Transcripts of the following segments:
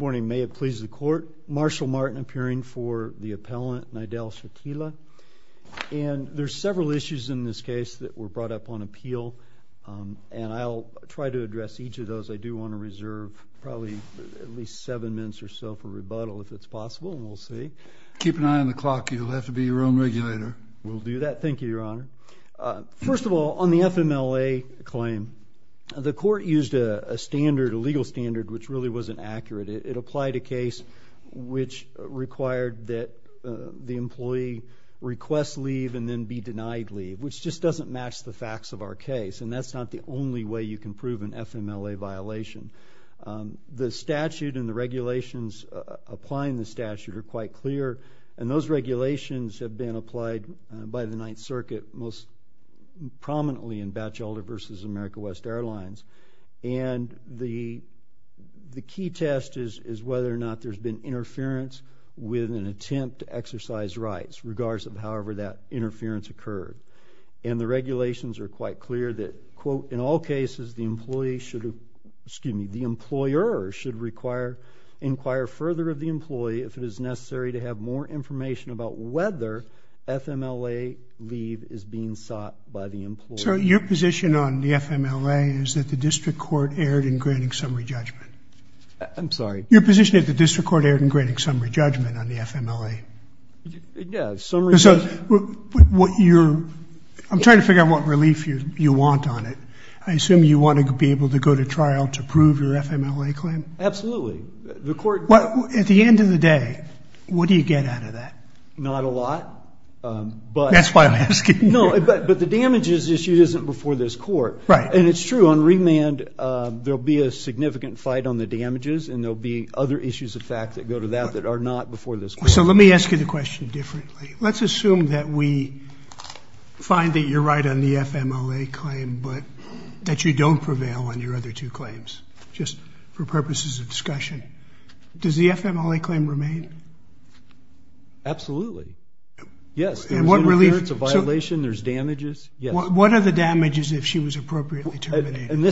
Morning. May it please the court. Marshall Martin appearing for the appellant Nidal Chatila and there's several issues in this case that were brought up on appeal and I'll try to address each of those. I do want to reserve probably at least seven minutes or so for rebuttal if it's possible and we'll see. Keep an eye on the clock. You'll have to be your own regulator. We'll do that. Thank you, Your Honor. First of all, on the FMLA claim, the court used a standard, a legal standard, which really wasn't accurate. It applied a case which required that the employee request leave and then be denied leave, which just doesn't match the facts of our case, and that's not the only way you can prove an FMLA violation. The statute and the regulations applying the statute are quite clear, and those regulations have been applied by the Ninth Circuit, most prominently in Batchelder v. America West Airlines. And the key test is whether or not there's been interference with an attempt to exercise rights, regardless of however that interference occurred. And the regulations are quite clear that, quote, in all cases the employee should have, excuse me, the employer should require, inquire further of the employee if it is necessary to have more information about whether FMLA leave is being sought by the employee. So your position on the FMLA is that the district court erred in granting summary judgment? I'm sorry? Your position is the district court erred in granting summary judgment on the FMLA? Yeah, summary judgment. So what you're, I'm trying to figure out what relief you want on it. I assume you want to be able to go to trial to prove your FMLA claim? Absolutely. The court... At the end of the day, what do you get out of that? Not a lot, but... That's why I'm asking. No, but the damages issued isn't before this court. Right. And it's true, on remand there'll be a significant fight on the damages, and there'll be other issues of fact that go to that that are not before this court. So let me ask you the question differently. Let's assume that we find that you're right on the FMLA claim, but that you don't prevail on your other two claims, just for purposes of discussion. Does the FMLA claim remain? Absolutely. Yes, there's interference, a violation, there's damages. What are the damages if she was appropriately terminated? And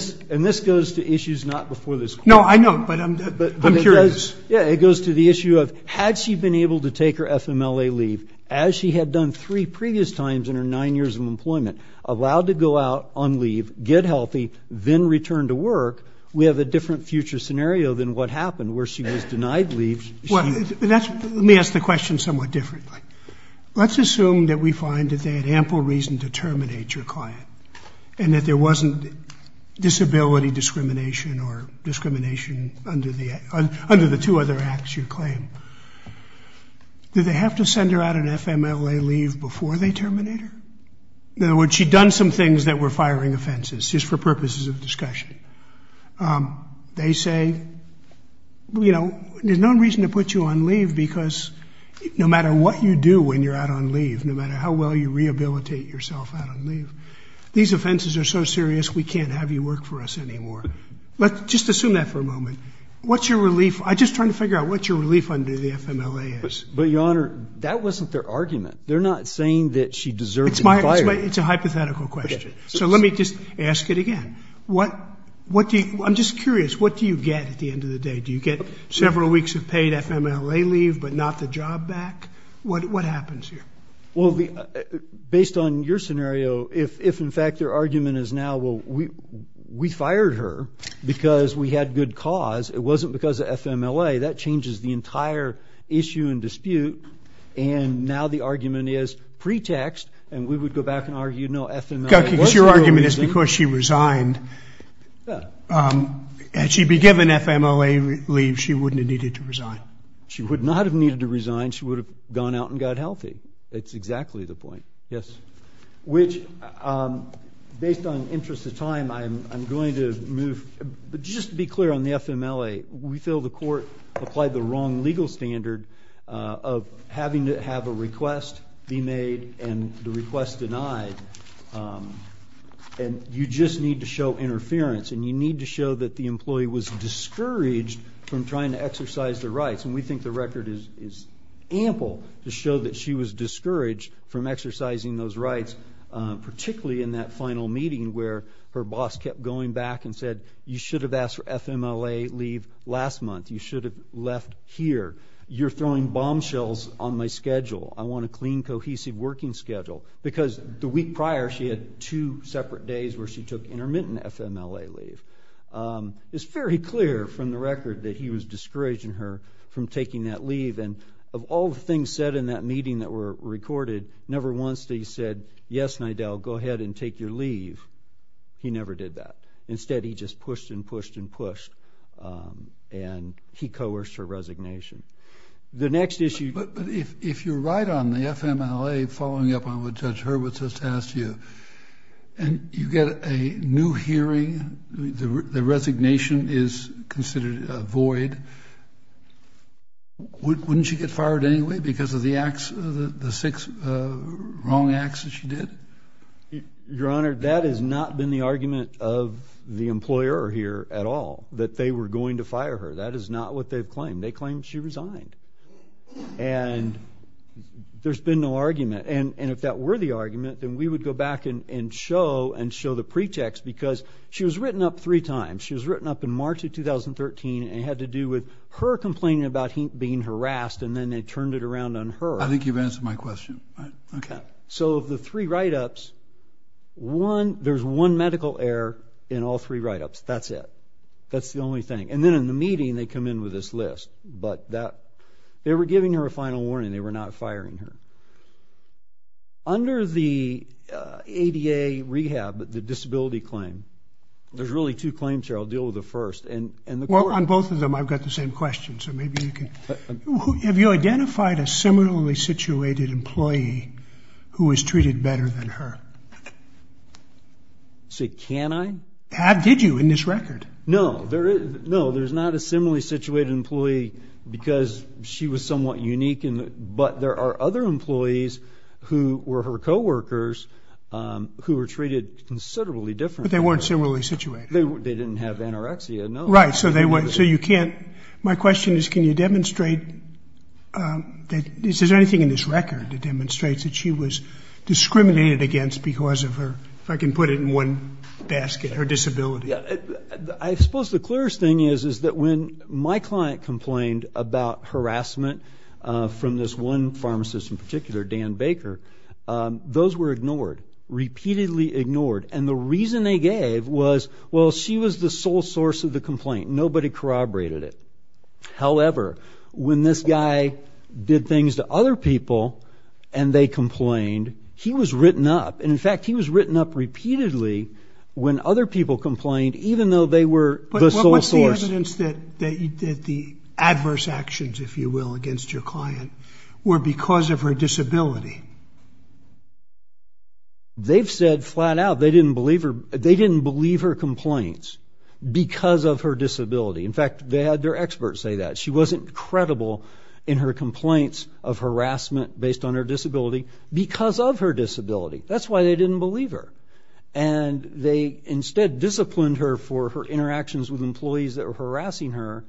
this goes to issues not before this court. No, I know, but I'm curious. Yeah, it goes to the issue of had she been able to take her FMLA leave as she had done three previous times in her nine years of employment, allowed to go out, unleave, get healthy, then return to work, we have a different future scenario than what happened where she was denied leave. Let me ask the question somewhat differently. Let's assume that we find that they had ample reason to terminate your client, and that there wasn't disability discrimination or discrimination under the two other acts you claim. Did they have to send her out on FMLA leave before they terminate her? In other words, she'd done some things that were firing offenses, just for purposes of discussion. They say, you know, there's no reason to put you on leave because no matter what you do when you're out on leave, no matter how well you rehabilitate yourself out on leave, these offenses are so serious we can't have you work for us anymore. Let's just assume that for a moment. What's your relief? I'm just trying to figure out what your relief under the FMLA is. But, Your Honor, that wasn't their argument. They're not saying that she deserves to be fired. It's a hypothetical question. So let me just ask it again. I'm just curious, what do you get at the end of the day? Do you get several weeks of paid FMLA leave, but not the job back? What happens here? Well, based on your scenario, if in fact their argument is now, well, we fired her because we had good cause. It wasn't because of FMLA. That changes the entire issue and dispute, and now the argument is pretext, and we would go back and argue, no, FMLA was the real reason. Your argument is because she resigned. Had she been given FMLA leave, she wouldn't have needed to resign. She would not have needed to resign. She would have gone out and got healthy. That's exactly the point. Yes. Which, based on interest of time, I'm going to move. Just to be clear on the FMLA, we feel the court applied the wrong legal standard of having to have a request be made and the request denied, and you just need to show interference, and you need to show that the employee was discouraged from trying to exercise the rights, and we think the record is ample to show that she was discouraged from exercising those rights, particularly in that final meeting where her boss kept going back and said, you should have asked for FMLA leave last month. You should have left here. You're throwing bombshells on my schedule. I want a clean, cohesive working schedule, because the week prior she had two separate days where she took intermittent FMLA leave. It's very clear from the record that he was discouraging her from taking that leave, and of all the things said in that meeting that were recorded, never once did he say, yes, Nidel, go ahead and take your leave. He never did that. Instead, he just pushed and pushed and pushed, and he coerced her resignation. The next issue... But if you're right on the FMLA, following up on what Judge Hurwitz has asked you, and you get a new hearing, the resignation is considered void, wouldn't she get fired anyway because of the acts, the six wrong acts that she did? Your Honor, that has not been the argument of the employer here at all, that they were going to fire her. That is not what they've claimed. They claim she resigned, and there's been no argument. And if that were the argument, then we would go back and show and show the pretext, because she was written up three times. She was written up in March of 2013, and it had to do with her complaining about being harassed, and then they turned it around on her. I think you've answered my question. Okay. So of the three write-ups, there's one medical error in all three write-ups. That's it. That's the only thing. And then in the meeting, they come in with this list, but that... They were giving her a final warning. They were not firing her. Under the ADA rehab, the disability claim, there's really two claims here. I'll deal with the first. Well, on both of them, I've got the same question, so maybe you can... Have you identified a similarly situated employee who was treated better than her? Say, can I? Have did you in this record? No, there is... No, there's not a similarly situated employee because she was somewhat unique, but there are other employees who were her co-workers who were treated considerably different. But they weren't similarly situated? They didn't have anorexia, no. Right, so they weren't... So you can't... My question is, can you demonstrate that... Is there anything in this record that demonstrates that she was discriminated against because of her, if I can put it in one basket, her disability? Yeah, I suppose the clearest thing is, is that when my client complained about harassment from this one pharmacist in particular, Dan Baker, those were ignored. Repeatedly ignored. And the reason they gave was, well, she was the sole source of the complaint. Nobody corroborated it. However, when this guy did things to other people and they complained, he was written up. And in fact, he was written up repeatedly when other people complained, even though they were the sole source. But what's the evidence that the adverse actions, if you will, against your client were because of her disability? They've said flat-out they didn't believe her complaints because of her disability. In fact, they had their experts say that. She wasn't credible in her complaints of harassment based on her disability because of her disability. That's why they didn't believe her. And they instead disciplined her for her interactions with employees that were harassing her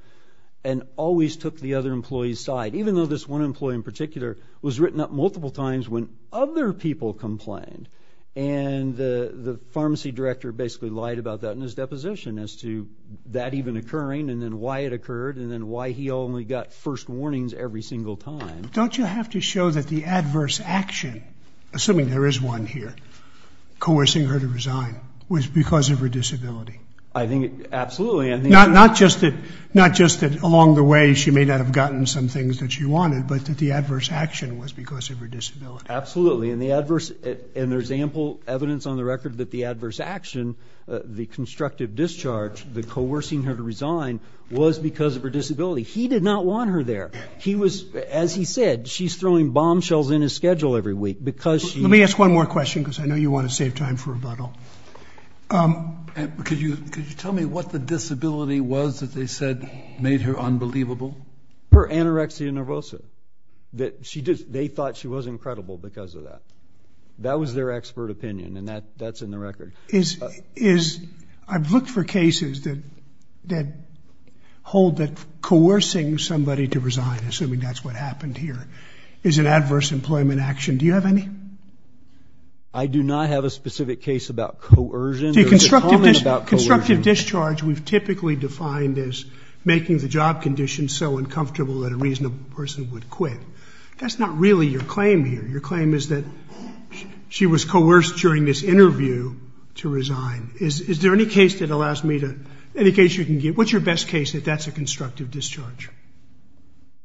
and always took the other employee's side, even though this one employee in particular was written up multiple times when other people complained. And the pharmacy director basically lied about that in his deposition as to that even occurring, and then why it occurred, and then why he only got first warnings every single time. Don't you have to show that the adverse action, assuming there is one here, coercing her to resign, was because of her disability? I think, absolutely. Not just that along the way she may not have gotten some things that she wanted, but that the adverse action was because of her disability. Absolutely, and there's ample evidence on the record that the adverse action, the constructive discharge, the coercing her to resign, was because of her disability. He did not want her there. He was, as he said, she's throwing bombshells in his schedule every week because she... Let me ask one more question because I know you want to save time for rebuttal. Could you tell me what the disability was that they said made her unbelievable? Her anorexia nervosa. They thought she was incredible because of that. That was their expert opinion, and that's in the record. I've looked for cases that hold that coercing somebody to resign, assuming that's what happened here, is an adverse employment action. Do you have any? I do not have a specific case about coercion. The constructive discharge we've typically defined as making the job condition so uncomfortable that a reasonable person would quit. That's not really your claim here. Your claim is that she was coerced during this interview to resign. Is there any case that allows me to... Any case you can give? What's your best case that that's a constructive discharge?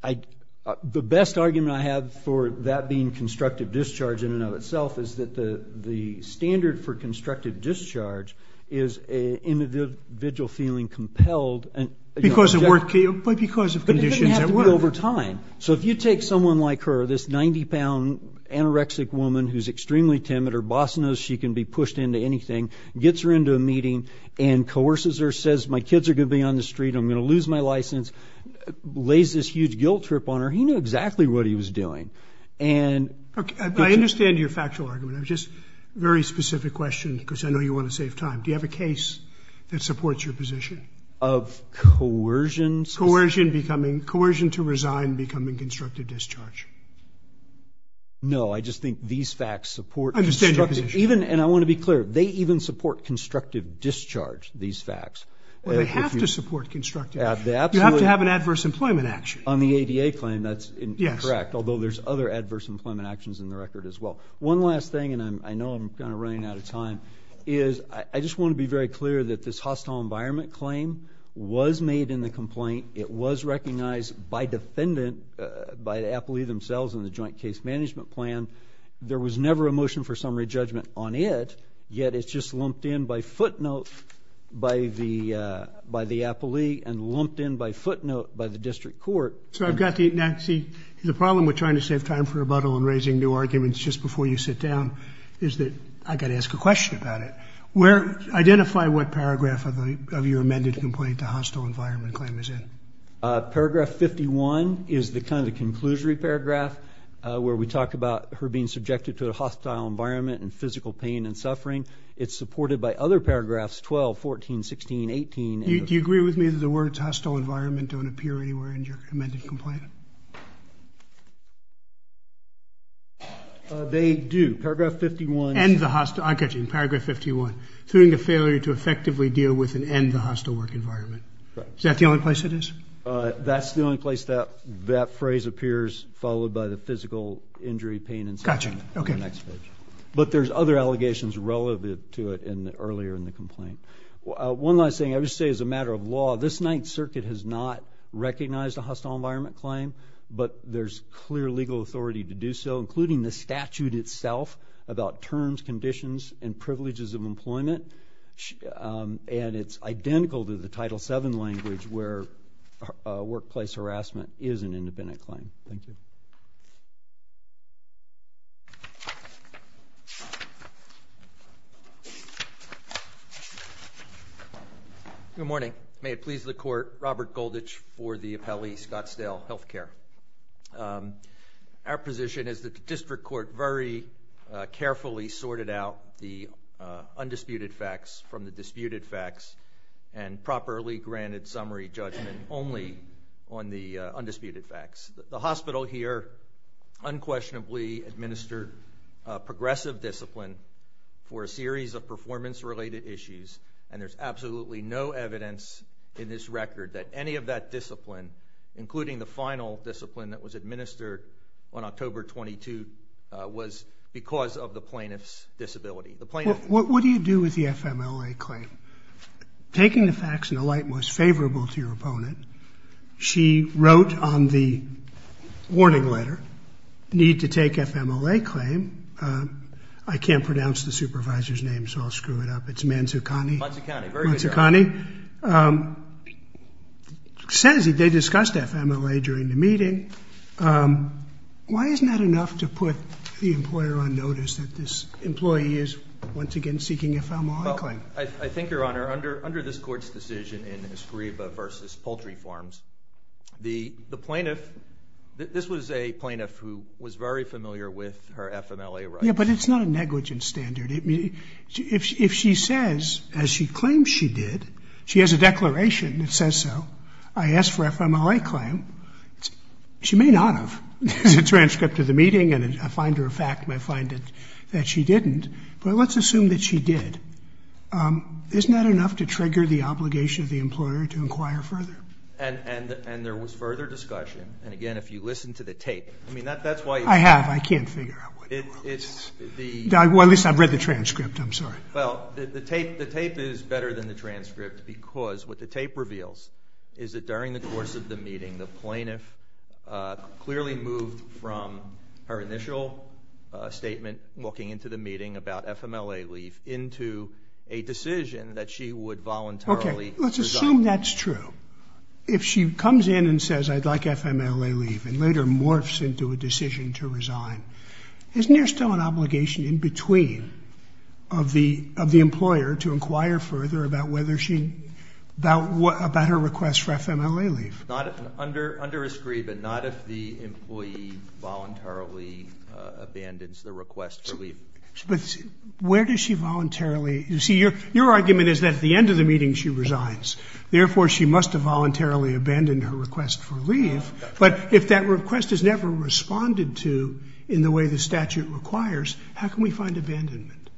The best argument I have for that being constructive discharge in and of itself is that the standard for constructive discharge is an individual feeling compelled. Because of work? But because of conditions that work. It doesn't have to be over time. So if you take someone like her, this 90-pound anorexic woman who's extremely timid. Her boss knows she can be pushed into anything. Gets her into a meeting and coerces her. Says my kids are gonna be on the street. I'm gonna lose my license. Lays this huge guilt trip on her. He knew exactly what he was doing. I understand your factual argument. It's just a very safe time. Do you have a case that supports your position? Of coercion? Coercion becoming... Coercion to resign becoming constructive discharge. No, I just think these facts support... I understand your position. Even, and I want to be clear, they even support constructive discharge, these facts. Well, they have to support constructive. You have to have an adverse employment action. On the ADA claim, that's correct. Although there's other adverse employment actions in the record as well. One last thing, and I know I'm kind of running out of time, is I just want to be very clear that this hostile environment claim was made in the complaint. It was recognized by defendant, by the appellee themselves in the joint case management plan. There was never a motion for summary judgment on it, yet it's just lumped in by footnote by the by the appellee and lumped in by footnote by the district court. So I've got the... Now, see, the problem with trying to save time for rebuttal and raising new arguments just before you sit down is that I got to ask a question about it. Identify what paragraph of your amended complaint the hostile environment claim is in. Paragraph 51 is the kind of conclusory paragraph where we talk about her being subjected to a hostile environment and physical pain and suffering. It's supported by other paragraphs 12, 14, 16, 18. Do you agree with me that the words hostile environment don't appear anywhere in your amended complaint? They do. Paragraph 51... And the hostile... I got you. Paragraph 51, suing the failure to effectively deal with and end the hostile work environment. Is that the only place it is? That's the only place that that phrase appears, followed by the physical injury, pain, and suffering. Gotcha, okay. But there's other allegations relevant to it in the earlier in the complaint. One last thing, I would say as a matter of law, this Ninth Circuit has not recognized a hostile environment claim, but there's clear legal authority to do so, including the statute itself about terms, conditions, and privileges of employment. And it's identical to the Title VII language, where workplace harassment is an independent claim. Thank you. Good morning. May it please the Court, Robert Goldich for the Appellee Scottsdale Health Care. Our position is that the District Court very carefully sorted out the undisputed facts from the disputed facts and properly granted summary judgment only on the undisputed facts. The hospital here unquestionably administered progressive discipline for a series of performance-related issues, and there's absolutely no evidence in this record that any of that discipline, including the final discipline that was administered on October 22, was because of the plaintiff's disability. The plaintiff... What do you do with the FMLA claim? Taking the facts in the light most favorable to your opponent, she wrote on the warning letter, need to take FMLA claim. I can't pronounce the supervisor's name, so I'll screw it up. It's Manzucani. Manzucani, very good job. Manzucani says they discussed FMLA during the meeting. Why isn't that enough to put the employer on trial? Your Honor, under this Court's decision in Escriba v. Poultry Farms, the plaintiff... This was a plaintiff who was very familiar with her FMLA rights. Yeah, but it's not a negligence standard. If she says, as she claims she did, she has a declaration that says so. I asked for FMLA claim. She may not have. There's a transcript of the meeting, and I find her a fact, and I find it that she didn't, but let's assume that she did. Isn't that enough to trigger the obligation of the employer to inquire further? And there was further discussion, and again, if you listen to the tape, I mean, that's why... I have. I can't figure out what... Well, at least I've read the transcript. I'm sorry. Well, the tape is better than the transcript because what the tape reveals is that during the course of the meeting, the plaintiff clearly moved from her initial statement walking into the meeting about FMLA leave into a decision that she would voluntarily resign. Okay, let's assume that's true. If she comes in and says, I'd like FMLA leave, and later morphs into a decision to resign, isn't there still an obligation in between of the employer to inquire further about whether she... about her request for FMLA leave? Not under Escriba, not if the employee voluntarily abandons the request for leave. But where does she voluntarily... You see, your argument is that at the end of the meeting, she resigns. Therefore, she must have voluntarily abandoned her request for leave, but if that request is never responded to in the way the statute requires, how can we find abandonment?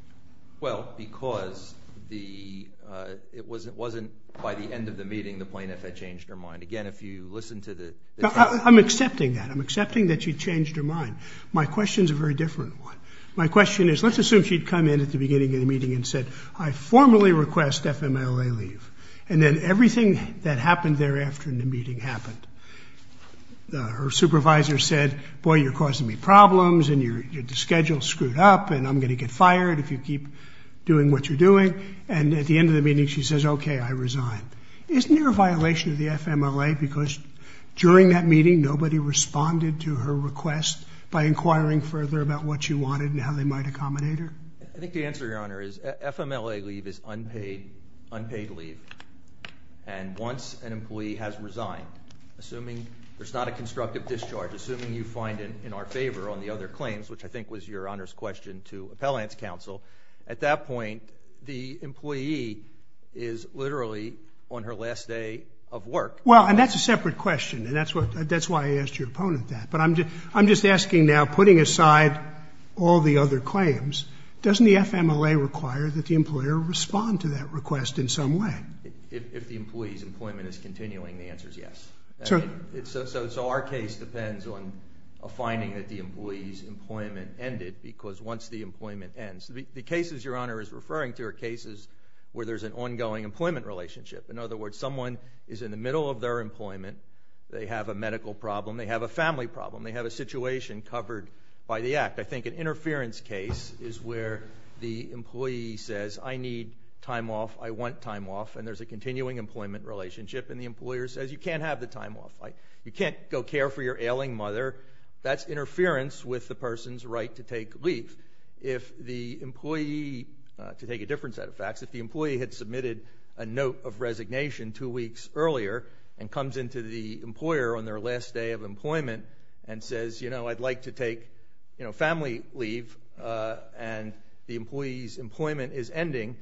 Well, because the... It wasn't by the end of the meeting the plaintiff had changed her mind. Again, if you listen to the... I'm accepting that. I'm accepting that she changed her mind. My question's a very different one. My question is, let's assume she'd come in at the beginning of the meeting and said, I formally request FMLA leave. And then everything that happened thereafter in the meeting happened. Her supervisor said, boy, you're causing me problems, and your schedule's screwed up, and I'm going to get fired if you keep doing what you're doing. And at the end of the meeting, she says, okay, I resign. Isn't there a violation of the FMLA because during that meeting, nobody responded to her request by inquiring further about what she wanted and how they might accommodate her? I think the answer, Your Honor, is FMLA leave is unpaid leave. And once an employee has resigned, assuming there's not a constructive discharge, assuming you find it in our favor on the other claims, which I think was Your Honor's question to Appellant's counsel, at that point, the employee is literally on her last day of work. Well, and that's a separate question, and that's why I asked your opponent that. But I'm just asking now, putting aside all the other claims, doesn't the FMLA require that the employer respond to that request in some way? If the employee's employment is continuing, the answer's yes. So our case depends on a finding that the employee's employment ended because once the employment ends, the cases Your Honor is referring to are cases where there's an ongoing employment relationship. In other words, someone is in the middle of their employment, they have a medical problem, they have a family problem, they have a situation covered by the act. I think an interference case is where the employee says, I need time off, I want time off, and there's a continuing employment relationship, and the employer says you can't have the time off. You can't go care for your ailing mother. That's interference with the person's right to take leave. If the employee, to take a different set of facts, if the employee had submitted a note of resignation two weeks earlier and comes into the employer on their last day of employment and says, you know, I'd like to take, you know, family leave, and the employee's employment is ending,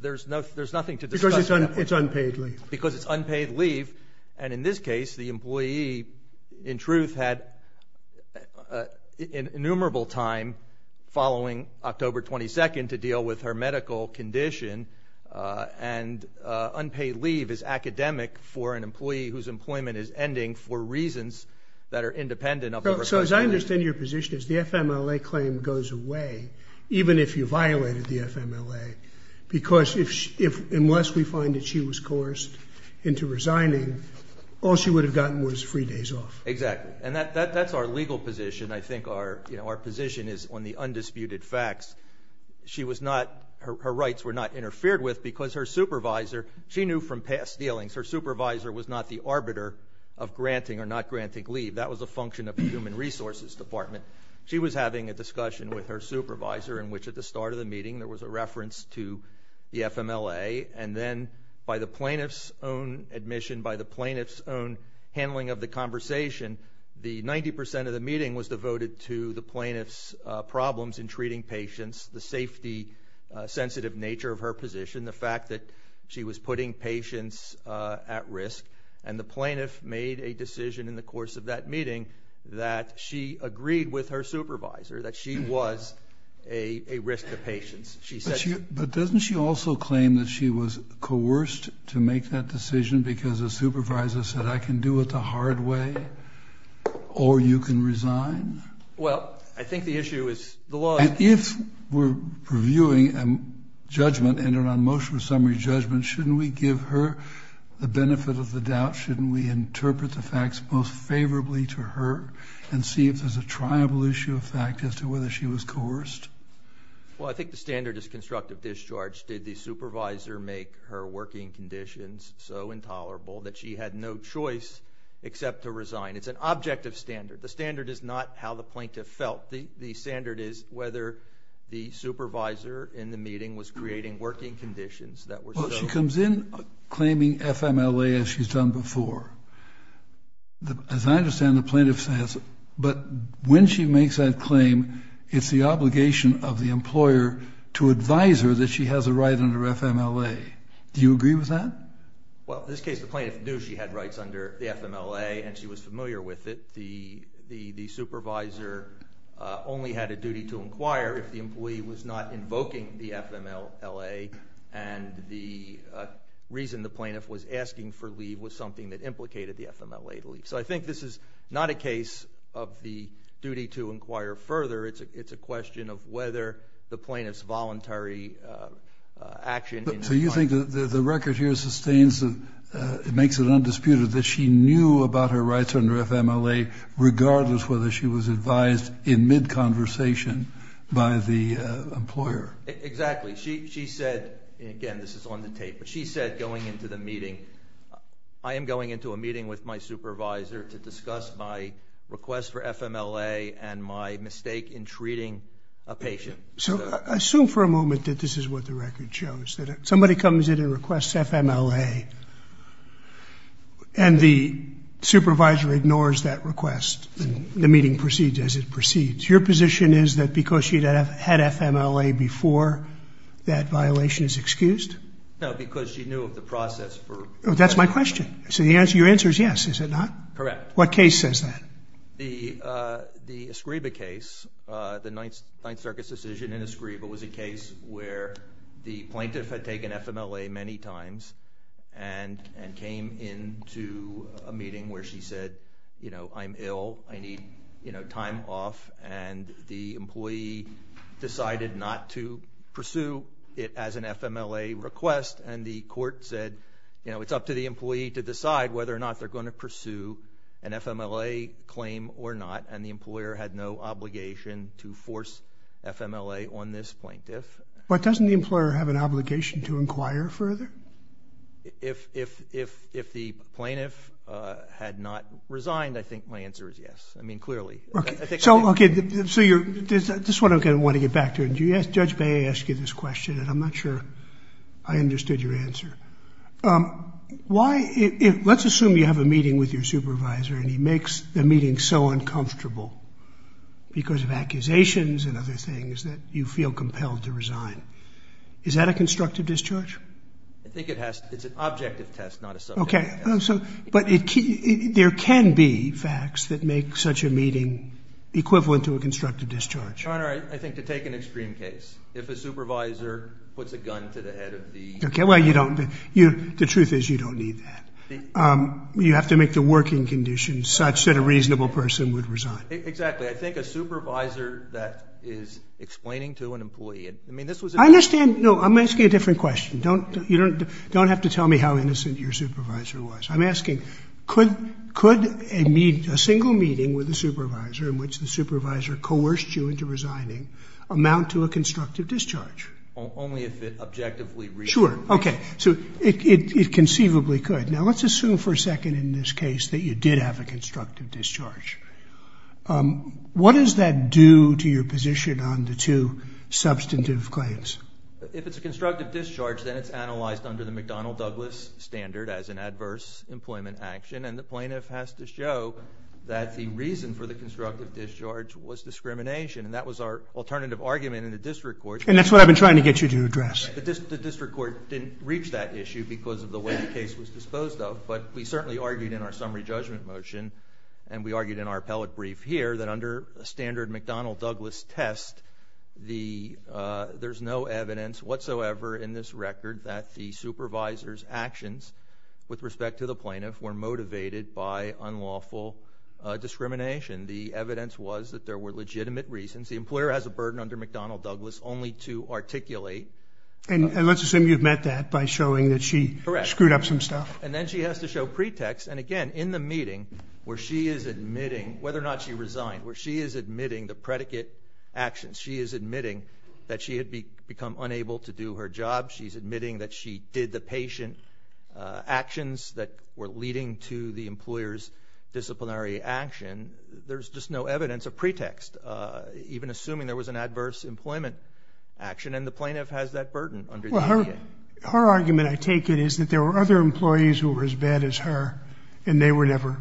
there's nothing to discuss about that. Because it's unpaid leave. Because it's unpaid leave, and in this case, the employee, in truth, had innumerable time following October 22nd to deal with her medical condition, and unpaid leave is academic for an employee whose employment is ending for reasons that are independent of the recovery. So as I understand your position is the FMLA claim goes away, even if you violated the FMLA, because unless we find that she was coerced into resigning, all she would have gotten was three days off. Exactly. And that's our legal position. I think our position is on the undisputed facts. She was not, her rights were not interfered with because her supervisor, she knew from past dealings, her supervisor was not the arbiter of granting or not granting leave. That was a function of the Human Resources Department. She was having a discussion with her supervisor in which at the start of the meeting there was a reference to the FMLA, and then by the plaintiff's own admission, by the plaintiff's own handling of the conversation, the 90% of the meeting was devoted to the plaintiff's problems in treating patients, the safety-sensitive nature of her position, the fact that she was putting patients at risk, and the plaintiff made a decision in the course of that meeting that she agreed with her supervisor that she was a risk to patients. But doesn't she also claim that she was coerced to make that decision because the supervisor said, I can do it the hard way, or you can resign? Well, I think the issue is the law... If we're reviewing a judgment, an un-motion summary judgment, shouldn't we give her the benefit of the doubt? Shouldn't we interpret the facts most favorably to her and see if there's a triable issue of fact as to whether she was coerced? Well, I think the standard is constructive discharge. Did the supervisor make her working conditions so intolerable that she had no choice except to resign? It's an objective standard. The standard is not how the plaintiff felt. The standard is whether the supervisor in the meeting was creating working conditions that were so... Well, she comes in claiming FMLA as she's done before. As I understand, the plaintiff says... But when she makes that claim, it's the obligation of the employer to advise her that she has a right under FMLA. Do you agree with that? Well, in this case, the plaintiff knew she had rights under the FMLA and she was familiar with it. The supervisor only had a duty to inquire if the employee was not invoking the FMLA and the reason the plaintiff was asking for leave was something that implicated the FMLA to leave. So I think this is not a case of the duty to inquire further. It's a question of whether the plaintiff's voluntary action... So you think that the record here sustains that it makes it undisputed that she knew about her rights under FMLA regardless whether she was advised in mid-conversation by the employer? Exactly. She said, again, this is on the tape, but she said going into the meeting, I am going into a meeting with my supervisor to discuss my request for FMLA and my mistake in treating a patient. So assume for a moment that this is what the record shows. Somebody comes in and requests FMLA and the supervisor ignores that request and the meeting proceeds as it proceeds. Your position is that because she had FMLA before, that violation is excused? No, because she knew of the process for... That's my question. So your answer is yes, is it not? Correct. What case says that? The Escriba case, the Ninth Circuit's decision in Escriba was a case where the plaintiff had taken FMLA many times and came into a meeting where she said, I'm ill, I need time off, and the employee decided not to pursue it as an FMLA request and the court said it's up to the employee to decide whether or not they're going to pursue an FMLA claim or not and the employer had no obligation to force FMLA on this plaintiff. But doesn't the employer have an obligation to inquire further? If the plaintiff had not resigned, I think my answer is yes. I mean, clearly. Okay. So you're... This is what I'm going to want to get back to. Judge Bay asked you this question and I'm not sure I understood your answer. Why... Let's assume you have a meeting with your supervisor and he makes the meeting so uncomfortable because of accusations and other things that you feel compelled to resign. Is that a constructive discharge? I think it has... It's an objective test, not a subjective test. Okay. So... But there can be facts that make such a meeting equivalent to a constructive discharge. Your Honor, I think to take an extreme case, if a supervisor puts a gun to the head of the... Okay. Well, you don't... The truth is you don't need that. You have to make the working conditions such that a reasonable person would resign. Exactly. I think a supervisor that is explaining to an employee... I mean, this was... I understand. No, I'm asking a different question. Don't... You don't... Don't have to tell me how innocent your supervisor was. I'm asking, could a single meeting with a supervisor in which the supervisor coerced you into resigning amount to a constructive discharge? Only if it objectively... Sure. Okay. So, it conceivably could. Now, let's assume for a second in this case that you did have a constructive discharge. What does that do to your position on the two substantive claims? If it's a constructive discharge, then it's analyzed under the McDonnell-Douglas standard as an adverse employment action, and the plaintiff has to show that the reason for the constructive discharge was discrimination, and that was our alternative argument in the district court. And that's what I've been trying to get you to address. The district court didn't reach that issue because of the way the case was disposed of, but we certainly argued in our summary judgment motion, and we argued in our appellate brief here, that under a standard McDonnell-Douglas test, there's no evidence whatsoever in this record that the supervisor's actions with respect to the plaintiff were motivated by unlawful discrimination. The evidence was that there were legitimate reasons. The employer has a burden under McDonnell-Douglas only to articulate... And let's assume you've met that by showing that she screwed up some stuff. Correct. And then she has to show pretext, and again, in the meeting where she is admitting, whether or not she resigned, where she is admitting the predicate actions, she is admitting that she had become unable to do her job, she's admitting that she did the patient actions that were leading to the employer's disciplinary action. There's just no evidence of pretext, even assuming there was an adverse employment action, and the plaintiff has that burden under the APA. Her argument, I take it, is that there were other employees who were as bad as her, and they were never,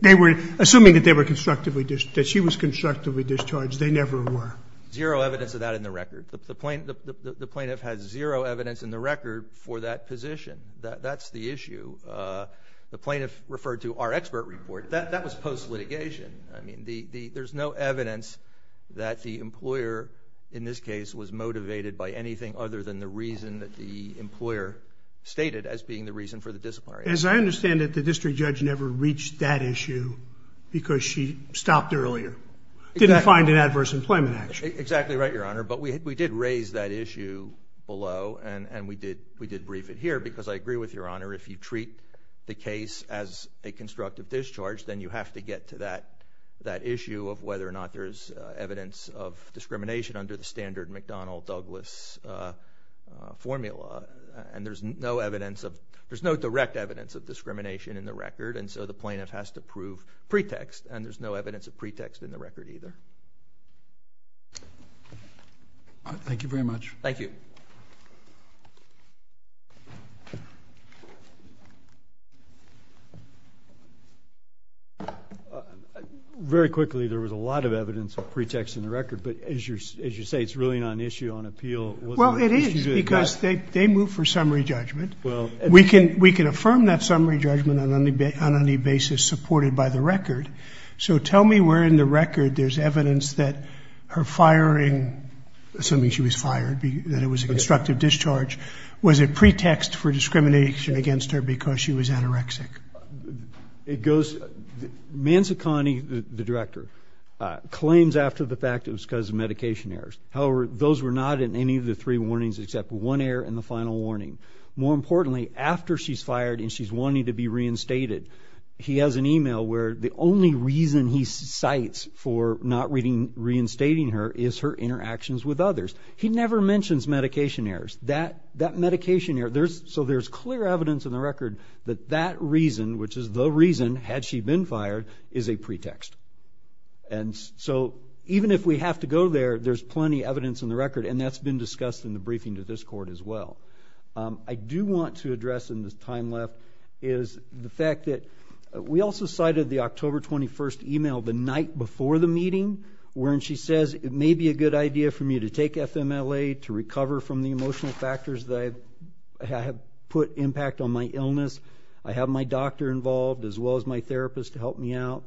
they were, assuming that they were constructively, that she was constructively discharged, they never were. Zero evidence of that in the record. The plaintiff has zero evidence in the record for that position. That's the issue. The plaintiff referred to our expert report. That was post-litigation. I mean, there's no evidence that the employer, in this case, was motivated by anything other than the reason that the employer stated as being the reason for the disciplinary action. As I understand it, the district judge never reached that issue because she stopped earlier. Didn't find an adverse employment action. Exactly right, Your Honor. But we did raise that issue below, and we did brief it here, because I agree with Your Honor, if you treat the case as a constructive discharge, then you have to get to that issue of whether or not there's evidence of discrimination under the standard McDonnell-Douglas formula. And there's no evidence of, there's no direct evidence of discrimination in the record, and so the plaintiff has to prove pretext, and there's no evidence of pretext in the record either. Thank you very much. Thank you. Very quickly, there was a lot of evidence of pretext in the record, but as you say, Well, it is. It is, because they moved for summary judgment. We can affirm that summary judgment on any basis supported by the record, so tell me where in the record there's evidence that her firing, assuming she was fired, that it was a constructive discharge, was it pretext for discrimination against her because she was anorexic? It goes, Manzacani, the director, claims after the fact it was because of medication errors. However, those were not in any of the three warnings except one error in the final warning. More importantly, after she's fired and she's wanting to be reinstated, he has an email where the only reason he cites for not reinstating her is her interactions with others. He never mentions medication errors. That medication error, so there's clear evidence in the record that that reason, which is the reason, had she been fired, is a pretext. And so even if we have to go there, there's plenty of evidence in the record, and that's been discussed in the briefing to this court as well. I do want to address in the time left is the fact that we also cited the October 21st email the night before the meeting wherein she says it may be a good idea for me to take FMLA to recover from the emotional factors that have put impact on my illness. I have my doctor involved as well as my therapist to help me out.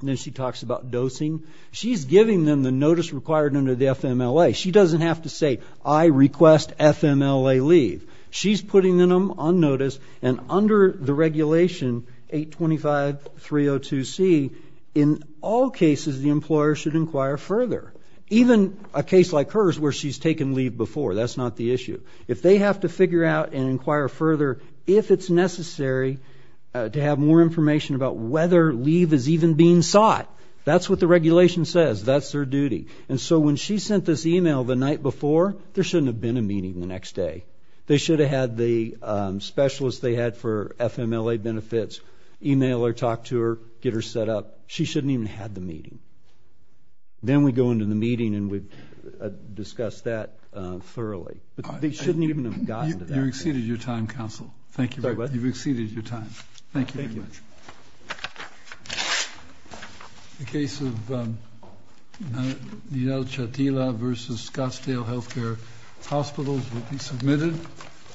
And then she talks about dosing. She's giving them the notice required under the FMLA. She doesn't have to say, I request FMLA leave. She's putting them on notice, and under the regulation 825.302c, in all cases, the employer should inquire further. Even a case like hers where she's taken leave before, that's not the issue. If they have to figure out and inquire further, if it's necessary to have more information about whether leave is even being sought, that's what the regulation says. That's their duty. And so when she sent this email the night before, there shouldn't have been a meeting the next day. They should have had the specialist they had for FMLA benefits email or talk to her, get her set up. She shouldn't even have the meeting. Then we go into the meeting and we discuss that thoroughly. They shouldn't even have gotten to that. You've exceeded your time, counsel. Thank you. You've exceeded your time. Thank you. Thank you. The case of Neal Chatila versus Scottsdale Health Care Hospitals will be submitted.